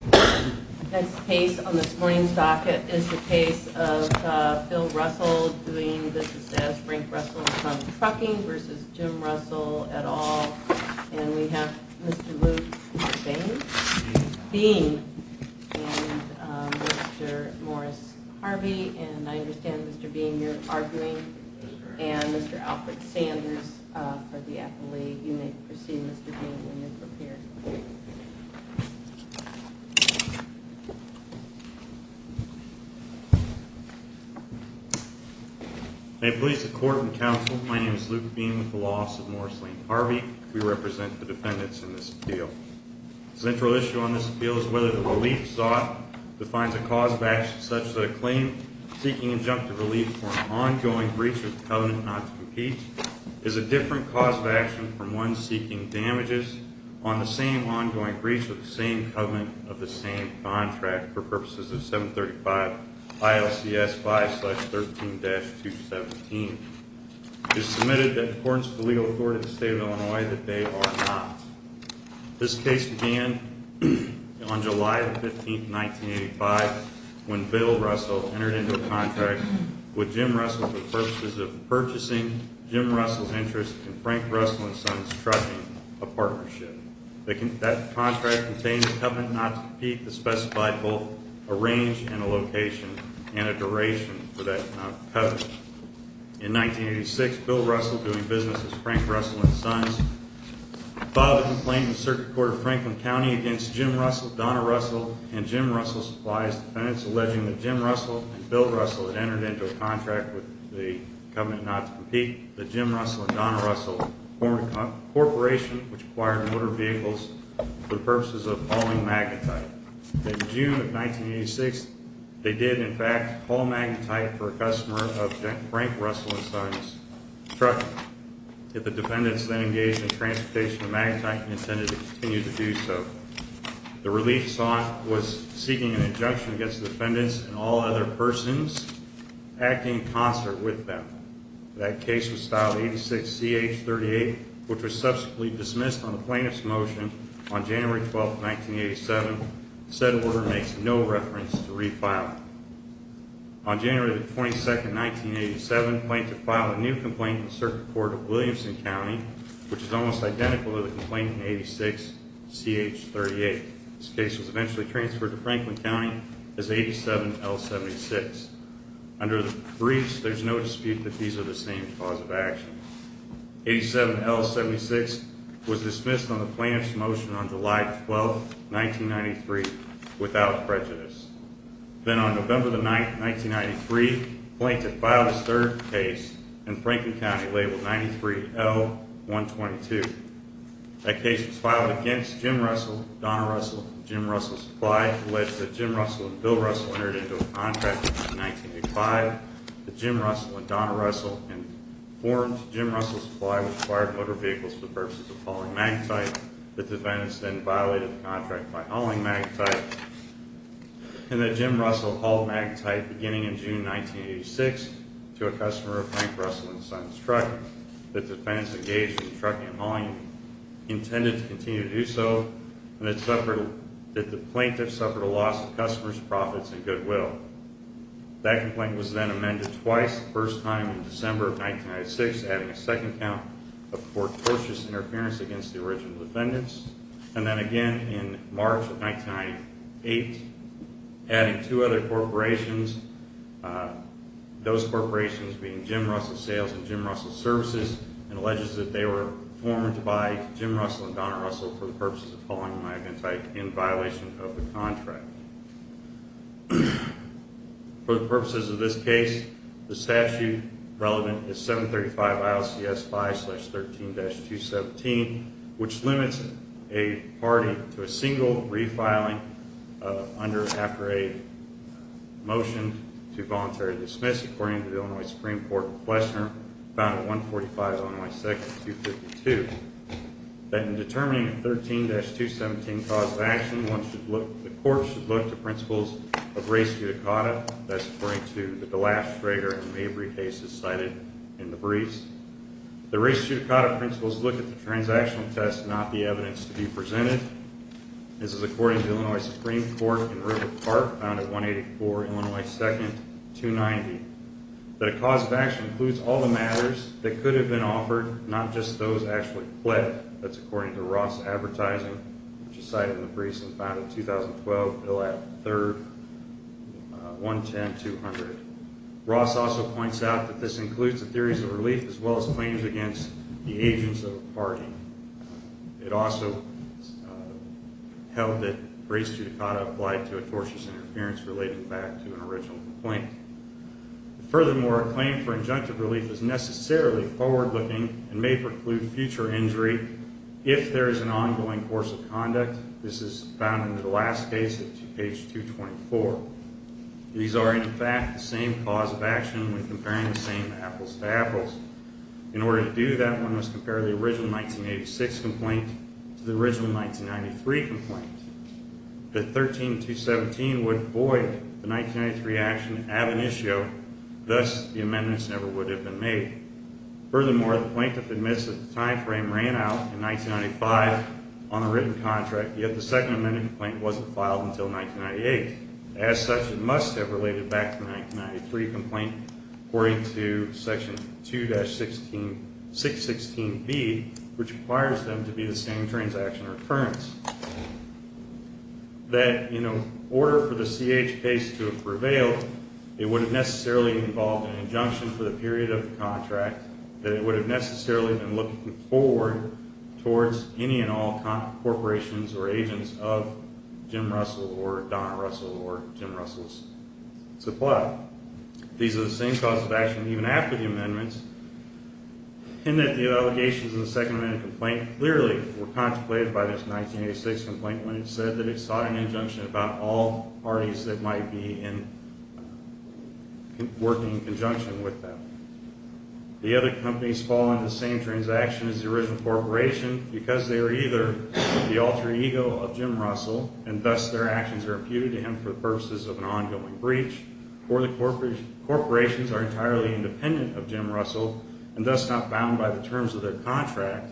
The next case on this morning's docket is the case of Phil Russell doing business as Frank Russell from Trucking v. Jim Russell, et al. And we have Mr. Luke Beane and Mr. Morris Harvey. And I understand, Mr. Beane, you're arguing, and Mr. Alfred Sanders for the affilee. You may proceed, Mr. Beane, when you're prepared. May it please the Court and Counsel, my name is Luke Beane with the Law Office of Morris Lane Harvey. We represent the defendants in this appeal. The central issue on this appeal is whether the relief sought defines a cause of action such that a claim seeking injunctive relief or an ongoing breach of the covenant not to compete is a different cause of action from one seeking damages on the same ongoing breach of the same covenant of the same contract for purposes of 735 ILCS 5-13-217. It is submitted that in accordance with the legal authority of the State of Illinois that they are not. This case began on July 15, 1985, when Bill Russell entered into a contract with Jim Russell for purposes of purchasing Jim Russell's interest in Frank Russell and Sons Trucking, a partnership. That contract contained a covenant not to compete that specified both a range and a location and a duration for that covenant. In 1986, Bill Russell, doing business with Frank Russell and Sons, filed a complaint with the Circuit Court of Franklin County against Jim Russell, Donna Russell, and Jim Russell Supplies Defendants, alleging that Jim Russell and Bill Russell had entered into a contract with the covenant not to compete, that Jim Russell and Donna Russell formed a corporation which acquired motor vehicles for the purposes of hauling magnetite. In June of 1986, they did, in fact, haul magnetite for a customer of Frank Russell and Sons Trucking. Yet the defendants then engaged in transportation of magnetite and intended to continue to do so. The relief sought was seeking an injunction against the defendants and all other persons acting in concert with them. That case was filed 86-CH-38, which was subsequently dismissed on the plaintiff's motion on January 12, 1987. Said order makes no reference to refiling. On January 22, 1987, the plaintiff filed a new complaint with the Circuit Court of Williamson County, which is almost identical to the complaint in 86-CH-38. This case was eventually transferred to Franklin County as 87-L76. Under the briefs, there is no dispute that these are the same cause of action. 87-L76 was dismissed on the plaintiff's motion on July 12, 1993, without prejudice. Then on November 9, 1993, the plaintiff filed his third case in Franklin County labeled 93-L122. That case was filed against Jim Russell, Donna Russell, and Jim Russell Supply. Alleged that Jim Russell and Bill Russell entered into a contract in 1985. That Jim Russell and Donna Russell informed Jim Russell Supply, which acquired motor vehicles for the purposes of hauling magnetite. The defendants then violated the contract by hauling magnetite. And that Jim Russell hauled magnetite beginning in June 1986 to a customer of Frank Russell and Sons Trucking. The defendants engaged in trucking and hauling intended to continue to do so. And that the plaintiff suffered a loss of customers' profits and goodwill. That complaint was then amended twice. The first time in December of 1996, adding a second count of fortuitous interference against the original defendants. And then again in March of 1998, adding two other corporations. Those corporations being Jim Russell Sales and Jim Russell Services. And alleges that they were formed by Jim Russell and Donna Russell for the purposes of hauling magnetite in violation of the contract. For the purposes of this case, the statute relevant is 735 ILCS 5-13-217. Which limits a party to a single refiling after a motion to voluntary dismiss. According to the Illinois Supreme Court questioner found at 145 ILCS 252. That in determining a 13-217 cause of action, the court should look to principles of res judicata. That's according to the Glass, Schrager, and Mabry cases cited in the briefs. The res judicata principles look at the transactional test, not the evidence to be presented. This is according to the Illinois Supreme Court in River Park, found at 184 Illinois 2nd, 290. That a cause of action includes all the matters that could have been offered, not just those actually fled. That's according to Ross Advertising, which is cited in the briefs and found in 2012, Illat III, 110-200. Ross also points out that this includes the theories of relief as well as claims against the agents of a party. It also held that res judicata applied to atrocious interference relating back to an original complaint. Furthermore, a claim for injunctive relief is necessarily forward-looking and may preclude future injury if there is an ongoing course of conduct. This is found in the last case at page 224. These are, in fact, the same cause of action when comparing the same apples to apples. In order to do that, one must compare the original 1986 complaint to the original 1993 complaint. The 13-217 would void the 1993 action ad initio, thus the amendments never would have been made. Furthermore, the plaintiff admits that the time frame ran out in 1995 on a written contract, yet the second amendment complaint wasn't filed until 1998. As such, it must have related back to the 1993 complaint according to section 2-616B, which requires them to be the same transaction recurrence. That in order for the CH case to have prevailed, it would have necessarily involved an injunction for the period of the contract, that it would have necessarily been looking forward towards any and all corporations or agents of Jim Russell or Donna Russell or Jim Russell's supply. These are the same cause of action even after the amendments, and that the allegations in the second amendment complaint clearly were contemplated by this 1986 complaint when it said that it sought an injunction about all parties that might be working in conjunction with them. The other companies fall under the same transaction as the original corporation because they are either the alter ego of Jim Russell and thus their actions are imputed to him for the purposes of an ongoing breach, or the corporations are entirely independent of Jim Russell and thus not bound by the terms of their contract,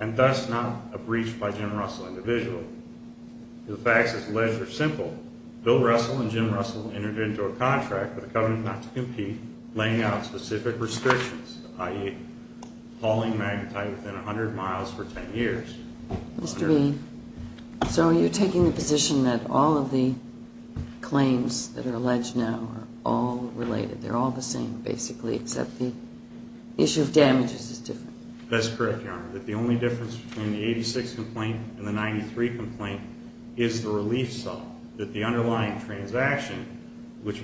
and thus not a breach by Jim Russell individually. The facts as alleged are simple. Bill Russell and Jim Russell entered into a contract with a covenant not to compete, laying out specific restrictions, i.e. hauling magnetite within 100 miles for 10 years. Mr. Bean, so you're taking the position that all of the claims that are alleged now are all related, they're all the same basically except the issue of damages is different? That's correct, Your Honor, that the only difference between the 1986 complaint and the 1993 complaint is the relief sum, that the underlying transaction, which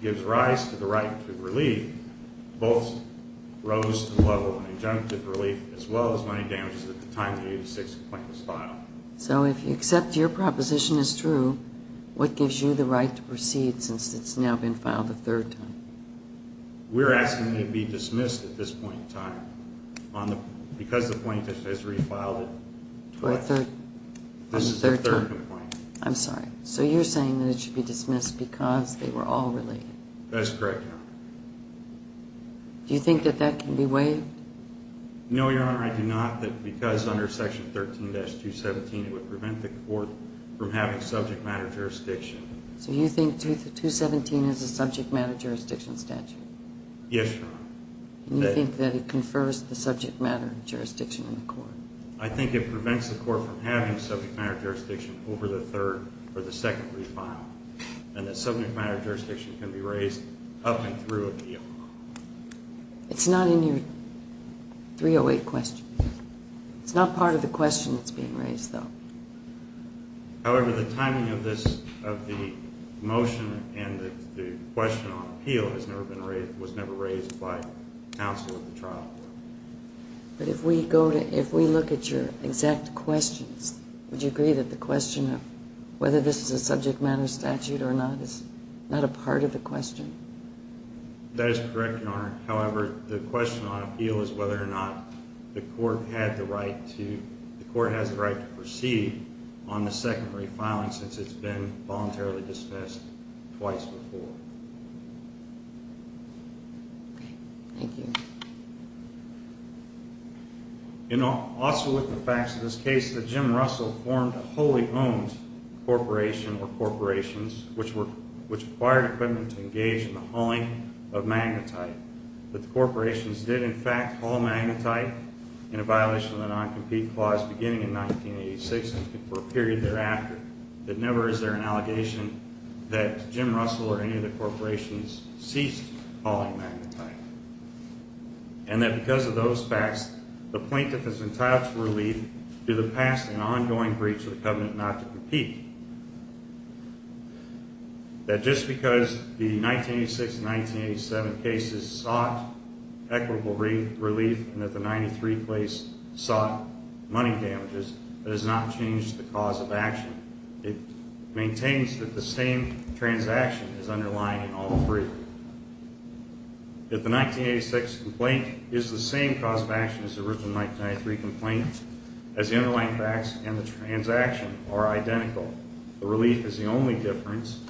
gives rise to the right to relief, both rose to the level of an injunctive relief as well as money damages at the time the 1986 complaint was filed. So if you accept your proposition is true, what gives you the right to proceed since it's now been filed a third time? We're asking that it be dismissed at this point in time because the plaintiff has refiled it. What third? This is the third complaint. I'm sorry. So you're saying that it should be dismissed because they were all related? That's correct, Your Honor. Do you think that that can be waived? No, Your Honor, I do not, because under Section 13-217 it would prevent the court from having subject matter jurisdiction. So you think 217 is a subject matter jurisdiction statute? Yes, Your Honor. And you think that it confers the subject matter jurisdiction in the court? I think it prevents the court from having subject matter jurisdiction over the third or the second refile and that subject matter jurisdiction can be raised up and through a deal. It's not in your 308 question. It's not part of the question that's being raised, though. However, the timing of the motion and the question on appeal was never raised by counsel at the trial. But if we look at your exact questions, would you agree that the question of whether this is a subject matter statute or not is not a part of the question? That is correct, Your Honor. However, the question on appeal is whether or not the court has the right to proceed on the secondary filing since it's been voluntarily discussed twice before. Okay. Thank you. Also with the facts of this case, the Jim Russell formed a wholly owned corporation or corporations which acquired equipment to engage in the hauling of magnetite. But the corporations did, in fact, haul magnetite in a violation of the non-compete clause beginning in 1986 and for a period thereafter. That never is there an allegation that Jim Russell or any of the corporations ceased hauling magnetite. And that because of those facts, the plaintiff is entitled to relief due to the past and ongoing breach of the covenant not to compete. That just because the 1986 and 1987 cases sought equitable relief and that the 93 case sought money damages, that has not changed the cause of action. It maintains that the same transaction is underlying in all three. That the 1986 complaint is the same cause of action as the original 1983 complaint as the underlying facts and the transaction are identical. The relief is the only difference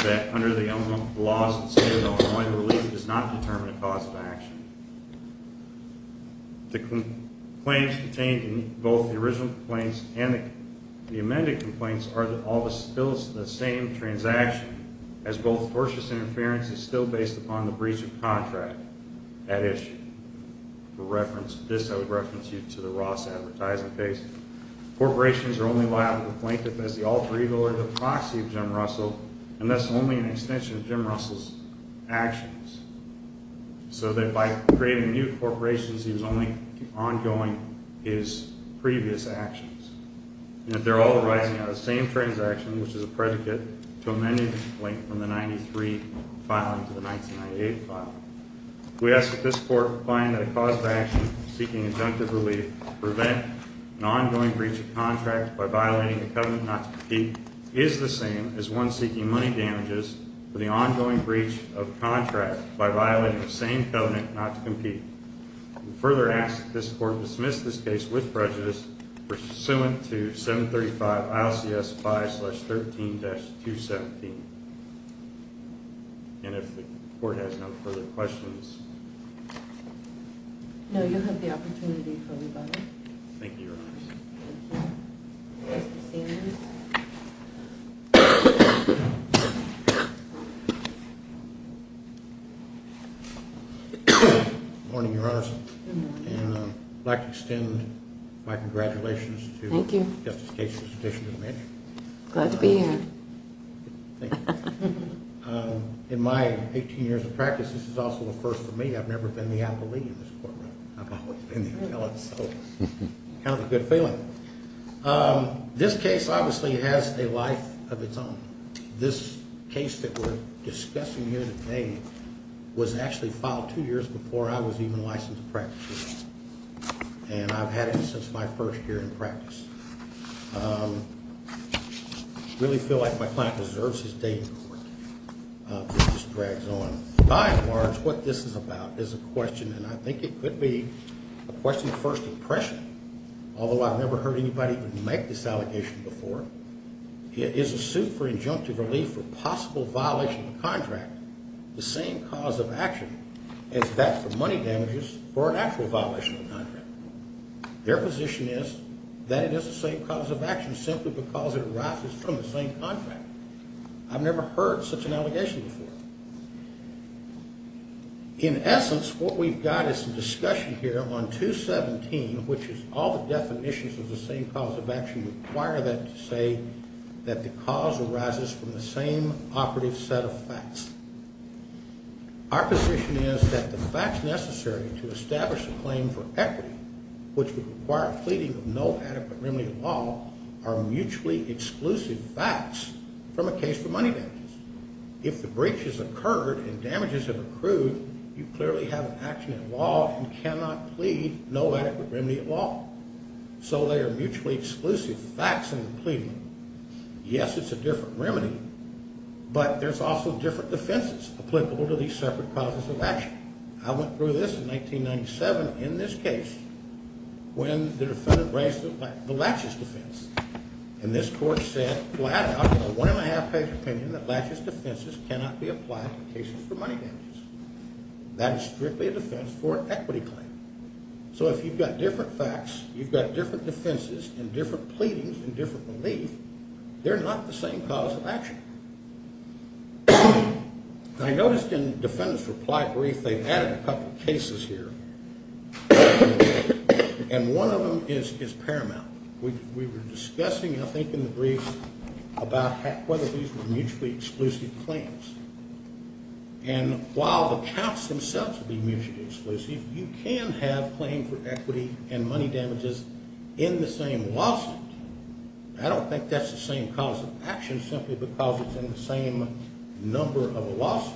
that under the laws of the state of Illinois, the relief does not determine the cause of action. The claims contained in both the original complaints and the amended complaints are all still the same transaction as both tortious interference is still based upon the breach of contract. That issue. For reference, this I would reference you to the Ross Advertising case. Corporations are only liable to the plaintiff as the alter ego or the proxy of Jim Russell and that's only an extension of Jim Russell's actions. So that by creating new corporations, he was only ongoing his previous actions. And that they're all arising out of the same transaction, which is a predicate to amending this complaint from the 93 filing to the 1998 filing. We ask that this court find a cause of action seeking injunctive relief to prevent an ongoing breach of contract by violating the covenant not to compete is the same as one seeking money damages for the ongoing breach of contract by violating the same covenant not to compete. We further ask that this court dismiss this case with prejudice pursuant to 735 ILCS 5-13-217. And if the court has no further questions. No, you have the opportunity for rebuttal. Thank you, Your Honors. Good morning, Your Honors. Good morning. And I'd like to extend my congratulations to Justice Case's addition to the mansion. Thank you. Glad to be here. Thank you. In my 18 years of practice, this is also a first for me. I've never been the appellee in this courtroom. I've always been the appellate, so kind of a good feeling. This case obviously has a life of its own. This case that we're discussing here today was actually filed two years before I was even licensed to practice. And I've had it since my first year in practice. I really feel like my client deserves his day in court. This just drags on. By and large, what this is about is a question, and I think it could be a question of first impression, although I've never heard anybody make this allegation before. It is a suit for injunctive relief for possible violation of a contract, the same cause of action as that for money damages for an actual violation of a contract. Their position is that it is the same cause of action simply because it arises from the same contract. I've never heard such an allegation before. In essence, what we've got is some discussion here on 217, which is all the definitions of the same cause of action require that to say that the cause arises from the same operative set of facts. Our position is that the facts necessary to establish a claim for equity, which would require a pleading of no adequate remedy at law, are mutually exclusive facts from a case for money damages. If the breach has occurred and damages have accrued, you clearly have an action at law and cannot plead no adequate remedy at law. So they are mutually exclusive facts in the pleading. Yes, it's a different remedy, but there's also different defenses applicable to these separate causes of action. I went through this in 1997 in this case when the defendant raised the Latches defense, and this court said flat out in a one-and-a-half-page opinion that Latches defenses cannot be applied in cases for money damages. That is strictly a defense for an equity claim. So if you've got different facts, you've got different defenses and different pleadings and different relief, they're not the same cause of action. I noticed in the defendant's reply brief they've added a couple of cases here, and one of them is paramount. We were discussing, I think, in the brief about whether these were mutually exclusive claims. And while the counts themselves would be mutually exclusive, you can have claims for equity and money damages in the same lawsuit. I don't think that's the same cause of action simply because it's in the same number of a lawsuit.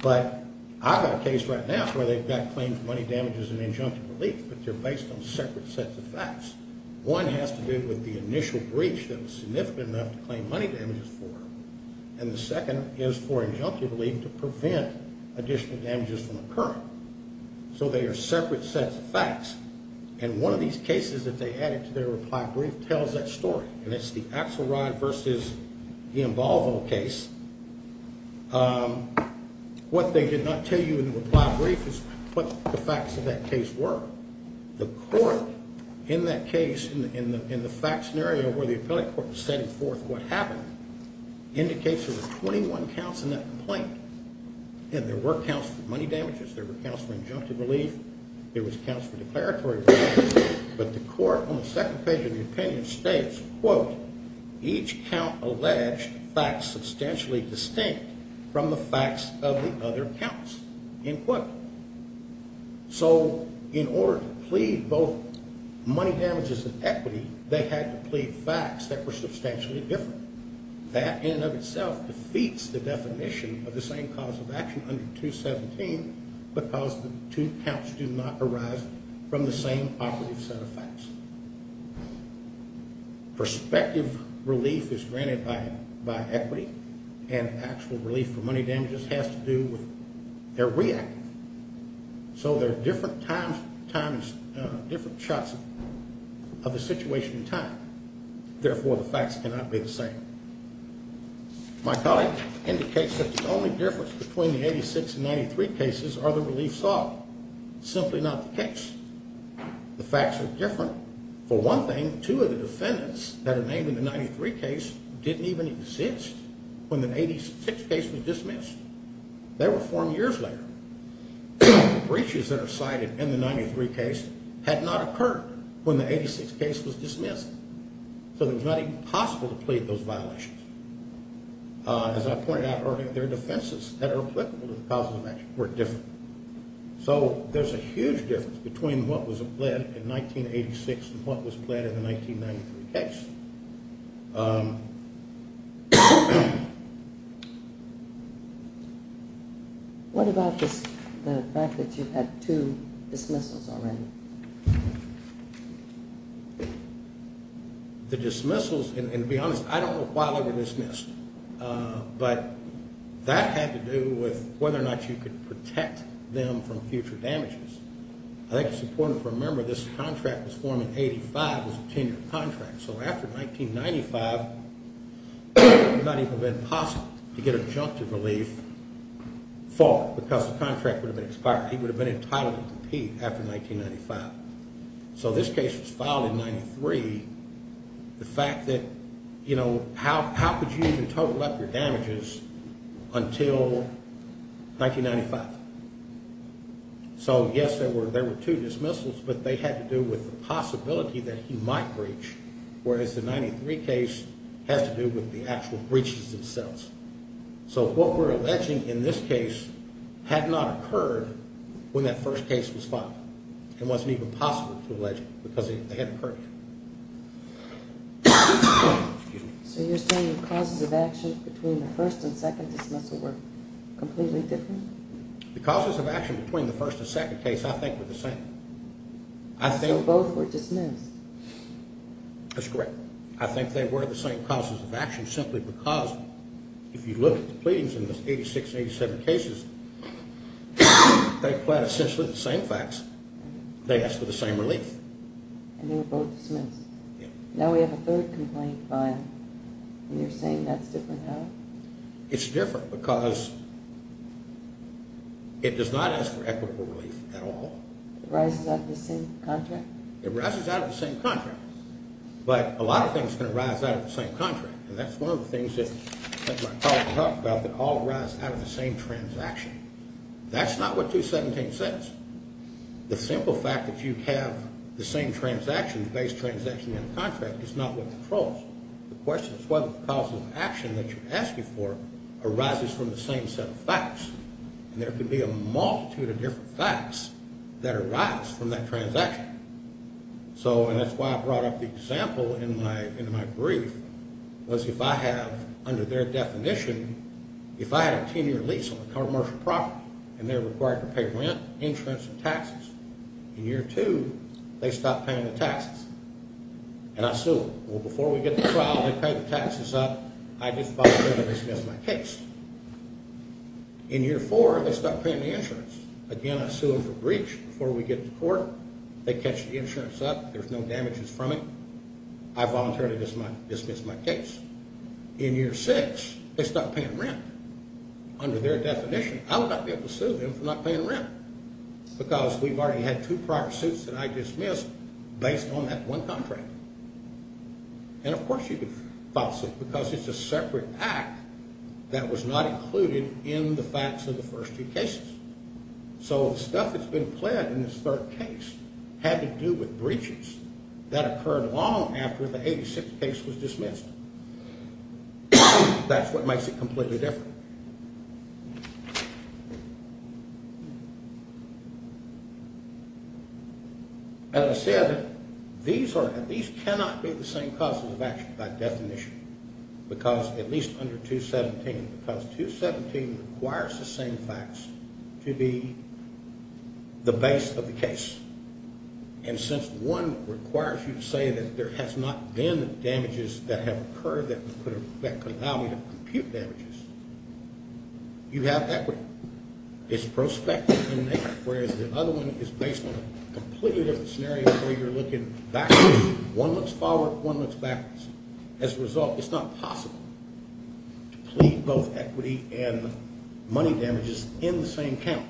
But I've got a case right now where they've got claims for money damages and injunctive relief, but they're based on separate sets of facts. One has to do with the initial breach that was significant enough to claim money damages for, and the second is for injunctive relief to prevent additional damages from occurring. So they are separate sets of facts, and one of these cases that they added to their reply brief tells that story, and it's the Axelrod versus the Involvo case. What they did not tell you in the reply brief is what the facts of that case were. The court in that case, in the fact scenario where the appellate court was setting forth what happened, indicates there were 21 counts in that complaint, and there were counts for money damages, there were counts for injunctive relief, there was counts for declaratory damages, but the court on the second page of the opinion states, quote, each count alleged facts substantially distinct from the facts of the other counts, end quote. So in order to plead both money damages and equity, they had to plead facts that were substantially different. That in and of itself defeats the definition of the same cause of action under 217, because the two counts do not arise from the same operative set of facts. Prospective relief is granted by equity, and actual relief for money damages has to do with their reactive. So there are different shots of the situation in time. Therefore, the facts cannot be the same. My colleague indicates that the only difference between the 86 and 93 cases are the relief sought. Simply not the case. The facts are different. For one thing, two of the defendants that are named in the 93 case didn't even exist when the 86 case was dismissed. They were formed years later. Breaches that are cited in the 93 case had not occurred when the 86 case was dismissed, so it was not even possible to plead those violations. As I pointed out earlier, their defenses that are applicable to the causes of action were different. So there's a huge difference between what was pled in 1986 and what was pled in the 1993 case. What about the fact that you had two dismissals already? The dismissals, and to be honest, I don't know why they were dismissed, but that had to do with whether or not you could protect them from future damages. I think it's important to remember this contract was formed in 85. It was a ten-year contract. So after 1995, it might even have been possible to get adjunctive relief for it because the contract would have been expired. He would have been entitled to repeat after 1995. So this case was filed in 93. The fact that, you know, how could you even total up your damages until 1995? So yes, there were two dismissals, but they had to do with the possibility that he might breach, whereas the 93 case has to do with the actual breaches themselves. So what we're alleging in this case had not occurred when that first case was filed. It wasn't even possible to allege it because they hadn't occurred. So you're saying the causes of action between the first and second dismissal were completely different? The causes of action between the first and second case I think were the same. So both were dismissed? That's correct. I think they were the same causes of action simply because if you look at the pleadings in the 86 and 87 cases, they applied essentially the same facts. They asked for the same relief. And they were both dismissed? Yes. Now we have a third complaint filed, and you're saying that's different now? It's different because it does not ask for equitable relief at all. It arises out of the same contract? It arises out of the same contract, but a lot of things can arise out of the same contract, and that's one of the things that my colleague talked about, that all arise out of the same transaction. That's not what 217 says. The simple fact that you have the same transaction, the base transaction in the contract, is not what controls. The question is whether the causes of action that you're asking for arises from the same set of facts. And there could be a multitude of different facts that arise from that transaction. So, and that's why I brought up the example in my brief, was if I have, under their definition, if I had a 10-year lease on a commercial property, and they're required to pay rent, insurance, and taxes, in year two, they stop paying the taxes, and I sue them. Well, before we get to trial, they pay the taxes up. I just file a criminal dismissal case. In year four, they stop paying the insurance. Again, I sue them for breach before we get to court. They catch the insurance up. There's no damages from it. I voluntarily dismiss my case. In year six, they stop paying rent. Under their definition, I would not be able to sue them for not paying rent, because we've already had two prior suits that I dismissed based on that one contract. And, of course, you could file a suit, because it's a separate act that was not included in the facts of the first two cases. So the stuff that's been pled in this third case had to do with breaches. That occurred long after the 86th case was dismissed. That's what makes it completely different. As I said, these cannot be the same causes of action by definition, because at least under 217, because 217 requires the same facts to be the base of the case. And since one requires you to say that there has not been damages that have occurred that could allow me to compute damages, you have equity. It's prospective in nature, whereas the other one is based on a completely different scenario where you're looking backwards. One looks forward. One looks backwards. As a result, it's not possible to plead both equity and money damages in the same count.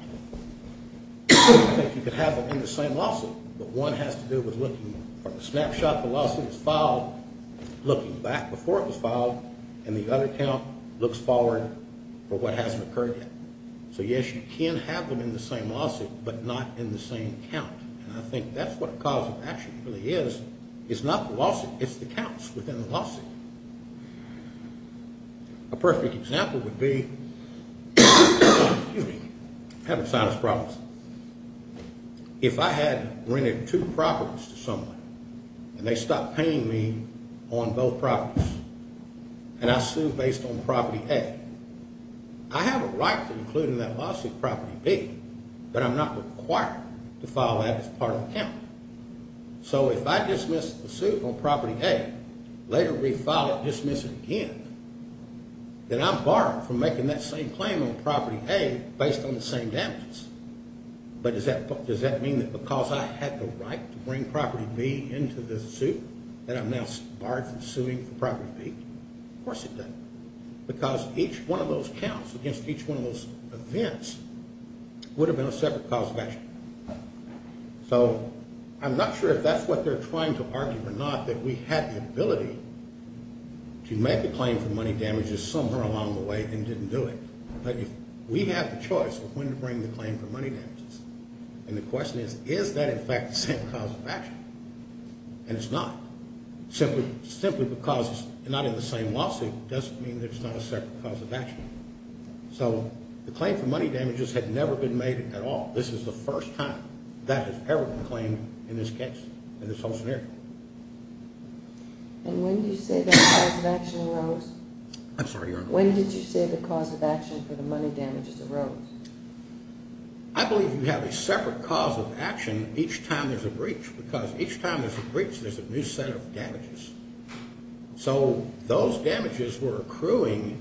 You could have them in the same lawsuit, but one has to do with looking from the snapshot the lawsuit was filed, looking back before it was filed, and the other count looks forward for what hasn't occurred yet. So, yes, you can have them in the same lawsuit, but not in the same count. And I think that's what a cause of action really is. It's not the lawsuit. It's the counts within the lawsuit. A perfect example would be, excuse me, I have sinus problems. If I had rented two properties to someone and they stopped paying me on both properties and I sued based on property A, I have a right to include in that lawsuit property B, but I'm not required to file that as part of the count. So if I dismiss the suit on property A, later refile it, dismiss it again, then I'm barred from making that same claim on property A based on the same damages. But does that mean that because I had the right to bring property B into the suit that I'm now barred from suing for property B? Of course it doesn't. Because each one of those counts against each one of those events would have been a separate cause of action. So I'm not sure if that's what they're trying to argue or not, that we had the ability to make the claim for money damages somewhere along the way and didn't do it. But we have the choice of when to bring the claim for money damages. And the question is, is that in fact the same cause of action? And it's not. Simply because it's not in the same lawsuit doesn't mean there's not a separate cause of action. So the claim for money damages had never been made at all. This is the first time that has ever been claimed in this case, in this whole scenario. And when did you say that the cause of action arose? I'm sorry, Your Honor. When did you say the cause of action for the money damages arose? I believe we have a separate cause of action each time there's a breach. Because each time there's a breach there's a new set of damages. So those damages were accruing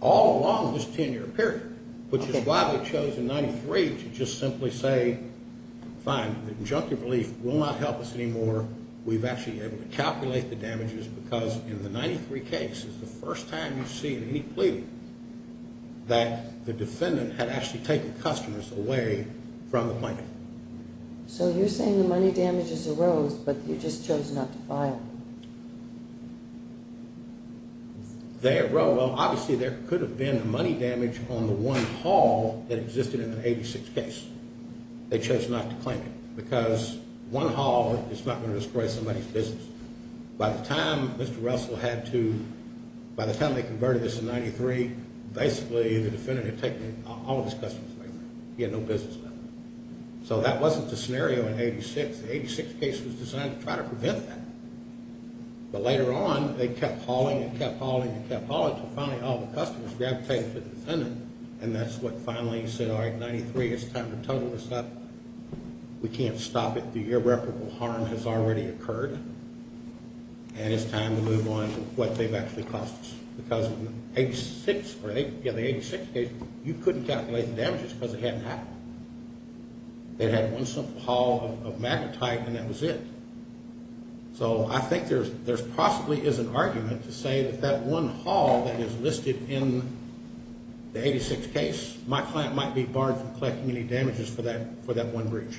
all along this 10-year period. Which is why we chose in 93 to just simply say, fine, the injunctive relief will not help us anymore. We've actually been able to calculate the damages because in the 93 case, it's the first time you see in any plea that the defendant had actually taken customers away from the plaintiff. So you're saying the money damages arose, but you just chose not to file? They arose. Well, obviously there could have been a money damage on the one haul that existed in the 86 case. They chose not to claim it because one haul is not going to destroy somebody's business. By the time Mr. Russell had to, by the time they converted this in 93, basically the defendant had taken all of his customers away from him. He had no business left. So that wasn't the scenario in 86. The 86 case was designed to try to prevent that. But later on, they kept hauling and kept hauling and kept hauling until finally all the customers gravitated to the defendant. And that's what finally said, all right, 93, it's time to total this up. We can't stop it. The irreparable harm has already occurred. And it's time to move on to what they've actually cost us. Because in the 86 case, you couldn't calculate the damages because it hadn't happened. They had one simple haul of magnetite, and that was it. So I think there possibly is an argument to say that that one haul that is listed in the 86 case, my client might be barred from collecting any damages for that one breach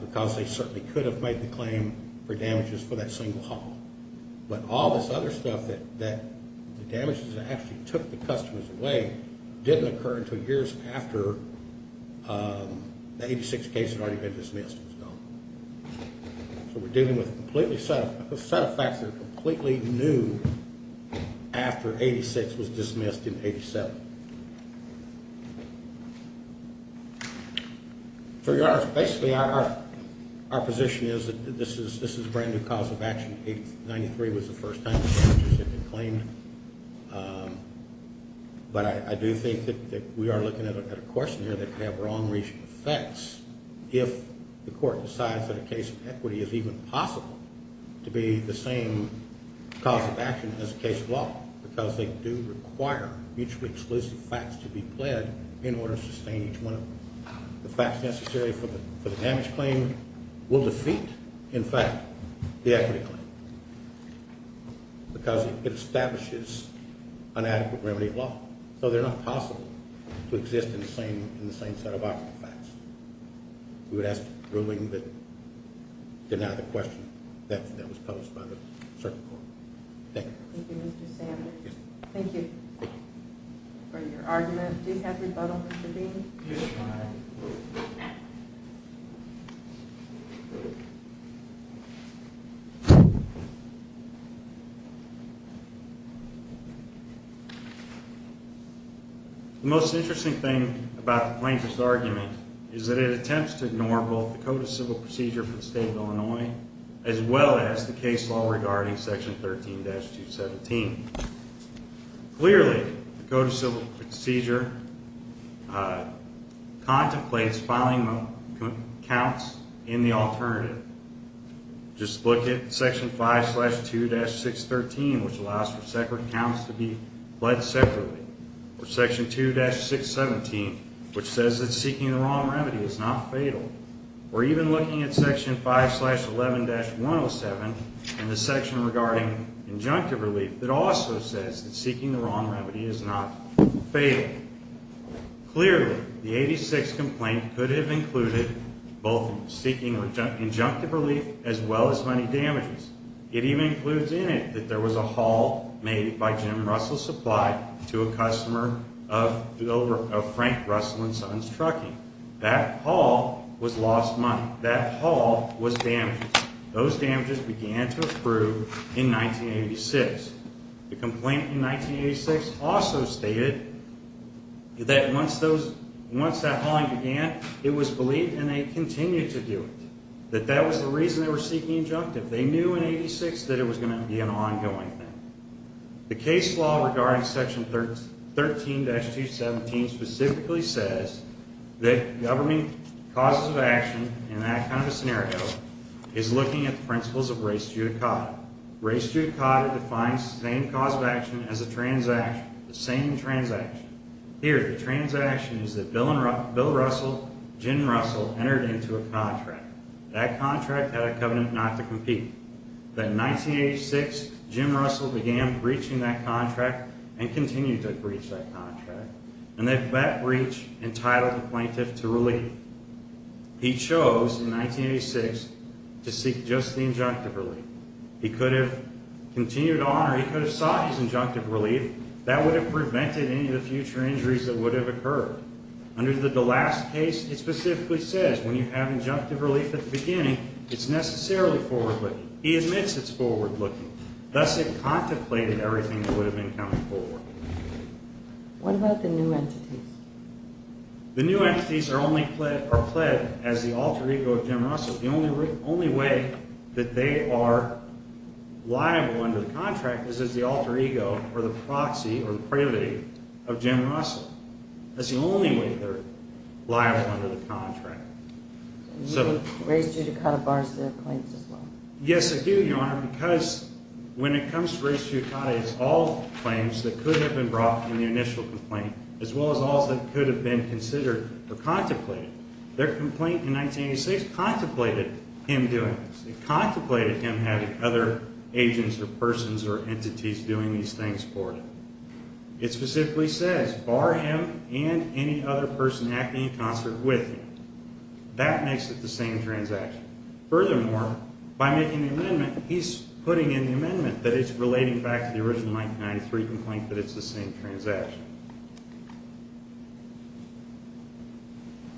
because they certainly could have made the claim for damages for that single haul. But all this other stuff that the damages actually took the customers away didn't occur until years after the 86 case had already been dismissed and was gone. So we're dealing with a set of facts that are completely new after 86 was dismissed in 87. For your honors, basically our position is that this is a brand-new cause of action. 93 was the first time the damages had been claimed. But I do think that we are looking at a question here that could have wrong-reaching effects if the court decides that a case of equity is even possible to be the same cause of action as a case of law because they do require mutually exclusive facts to be pled in order to sustain each one of them. The facts necessary for the damage claim will defeat, in fact, the equity claim because it establishes inadequate remedy law. So they're not possible to exist in the same set of facts. We would ask the ruling that denied the question that was posed by the circuit court. Thank you. Thank you, Mr. Sandler. Thank you for your argument. Do you have rebuttal, Mr. Bean? Yes, ma'am. Thank you. The most interesting thing about the plaintiff's argument is that it attempts to ignore both the Code of Civil Procedure for the State of Illinois as well as the case law regarding Section 13-217. Clearly, the Code of Civil Procedure contemplates filing counts in the alternative. Just look at Section 5-2-613, which allows for separate counts to be pled separately, or Section 2-617, which says that seeking the wrong remedy is not fatal, or even looking at Section 5-11-107 and the section regarding injunctive relief that also says that seeking the wrong remedy is not fatal. Clearly, the 1986 complaint could have included both seeking injunctive relief as well as money damages. It even includes in it that there was a haul made by Jim Russell Supply to a customer of Frank Russell & Sons Trucking. That haul was lost money. That haul was damages. Those damages began to approve in 1986. The complaint in 1986 also stated that once that hauling began, it was believed, and they continued to do it, that that was the reason they were seeking injunctive. They knew in 1986 that it was going to be an ongoing thing. The case law regarding Section 13-217 specifically says that government causes of action, in that kind of a scenario, is looking at the principles of res judicata. Res judicata defines the same cause of action as the same transaction. Here, the transaction is that Bill Russell and Jim Russell entered into a contract. That contract had a covenant not to compete. But in 1986, Jim Russell began breaching that contract and continued to breach that contract, and that breach entitled the plaintiff to relief. He chose, in 1986, to seek just the injunctive relief. He could have continued on, or he could have sought his injunctive relief. That would have prevented any of the future injuries that would have occurred. Under the last case, it specifically says when you have injunctive relief at the beginning, it's necessarily forward-looking. He admits it's forward-looking. Thus, it contemplated everything that would have been coming forward. What about the new entities? The new entities are only pled as the alter ego of Jim Russell. The only way that they are liable under the contract is as the alter ego or the proxy or the privity of Jim Russell. That's the only way they're liable under the contract. Do you think res judicata bars their claims as well? Yes, I do, Your Honor, because when it comes to res judicata, it's all claims that could have been brought in the initial complaint as well as all that could have been considered or contemplated. Their complaint in 1986 contemplated him doing this. It contemplated him having other agents or persons or entities doing these things for him. It specifically says, bar him and any other person acting in concert with him. That makes it the same transaction. Furthermore, by making the amendment, he's putting in the amendment that it's relating back to the original 1993 complaint that it's the same transaction.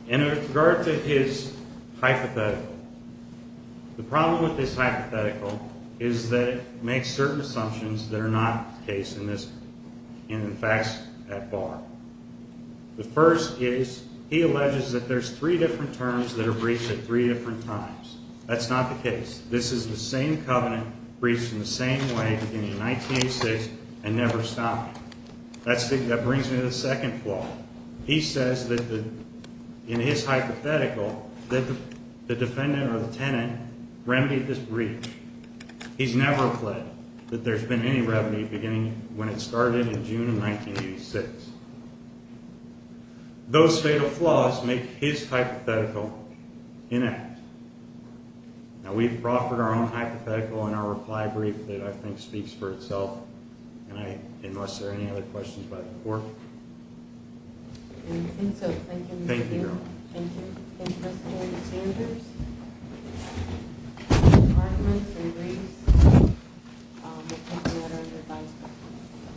In regard to his hypothetical, the problem with this hypothetical is that it makes certain assumptions that are not the case in the facts at bar. The first is he alleges that there's three different terms that are breached at three different times. That's not the case. This is the same covenant breached in the same way beginning in 1986 and never stopping. That brings me to the second flaw. He says that in his hypothetical that the defendant or the tenant remedied this breach. He's never pled that there's been any remedy beginning when it started in June of 1986. Those fatal flaws make his hypothetical inept. We've offered our own hypothetical in our reply brief that I think speaks for itself. Unless there are any other questions by the court. I think so. Thank you. Thank you, Your Honor. Thank you. Any questions or concerns? Any arguments or worries? We'll take a matter of five seconds.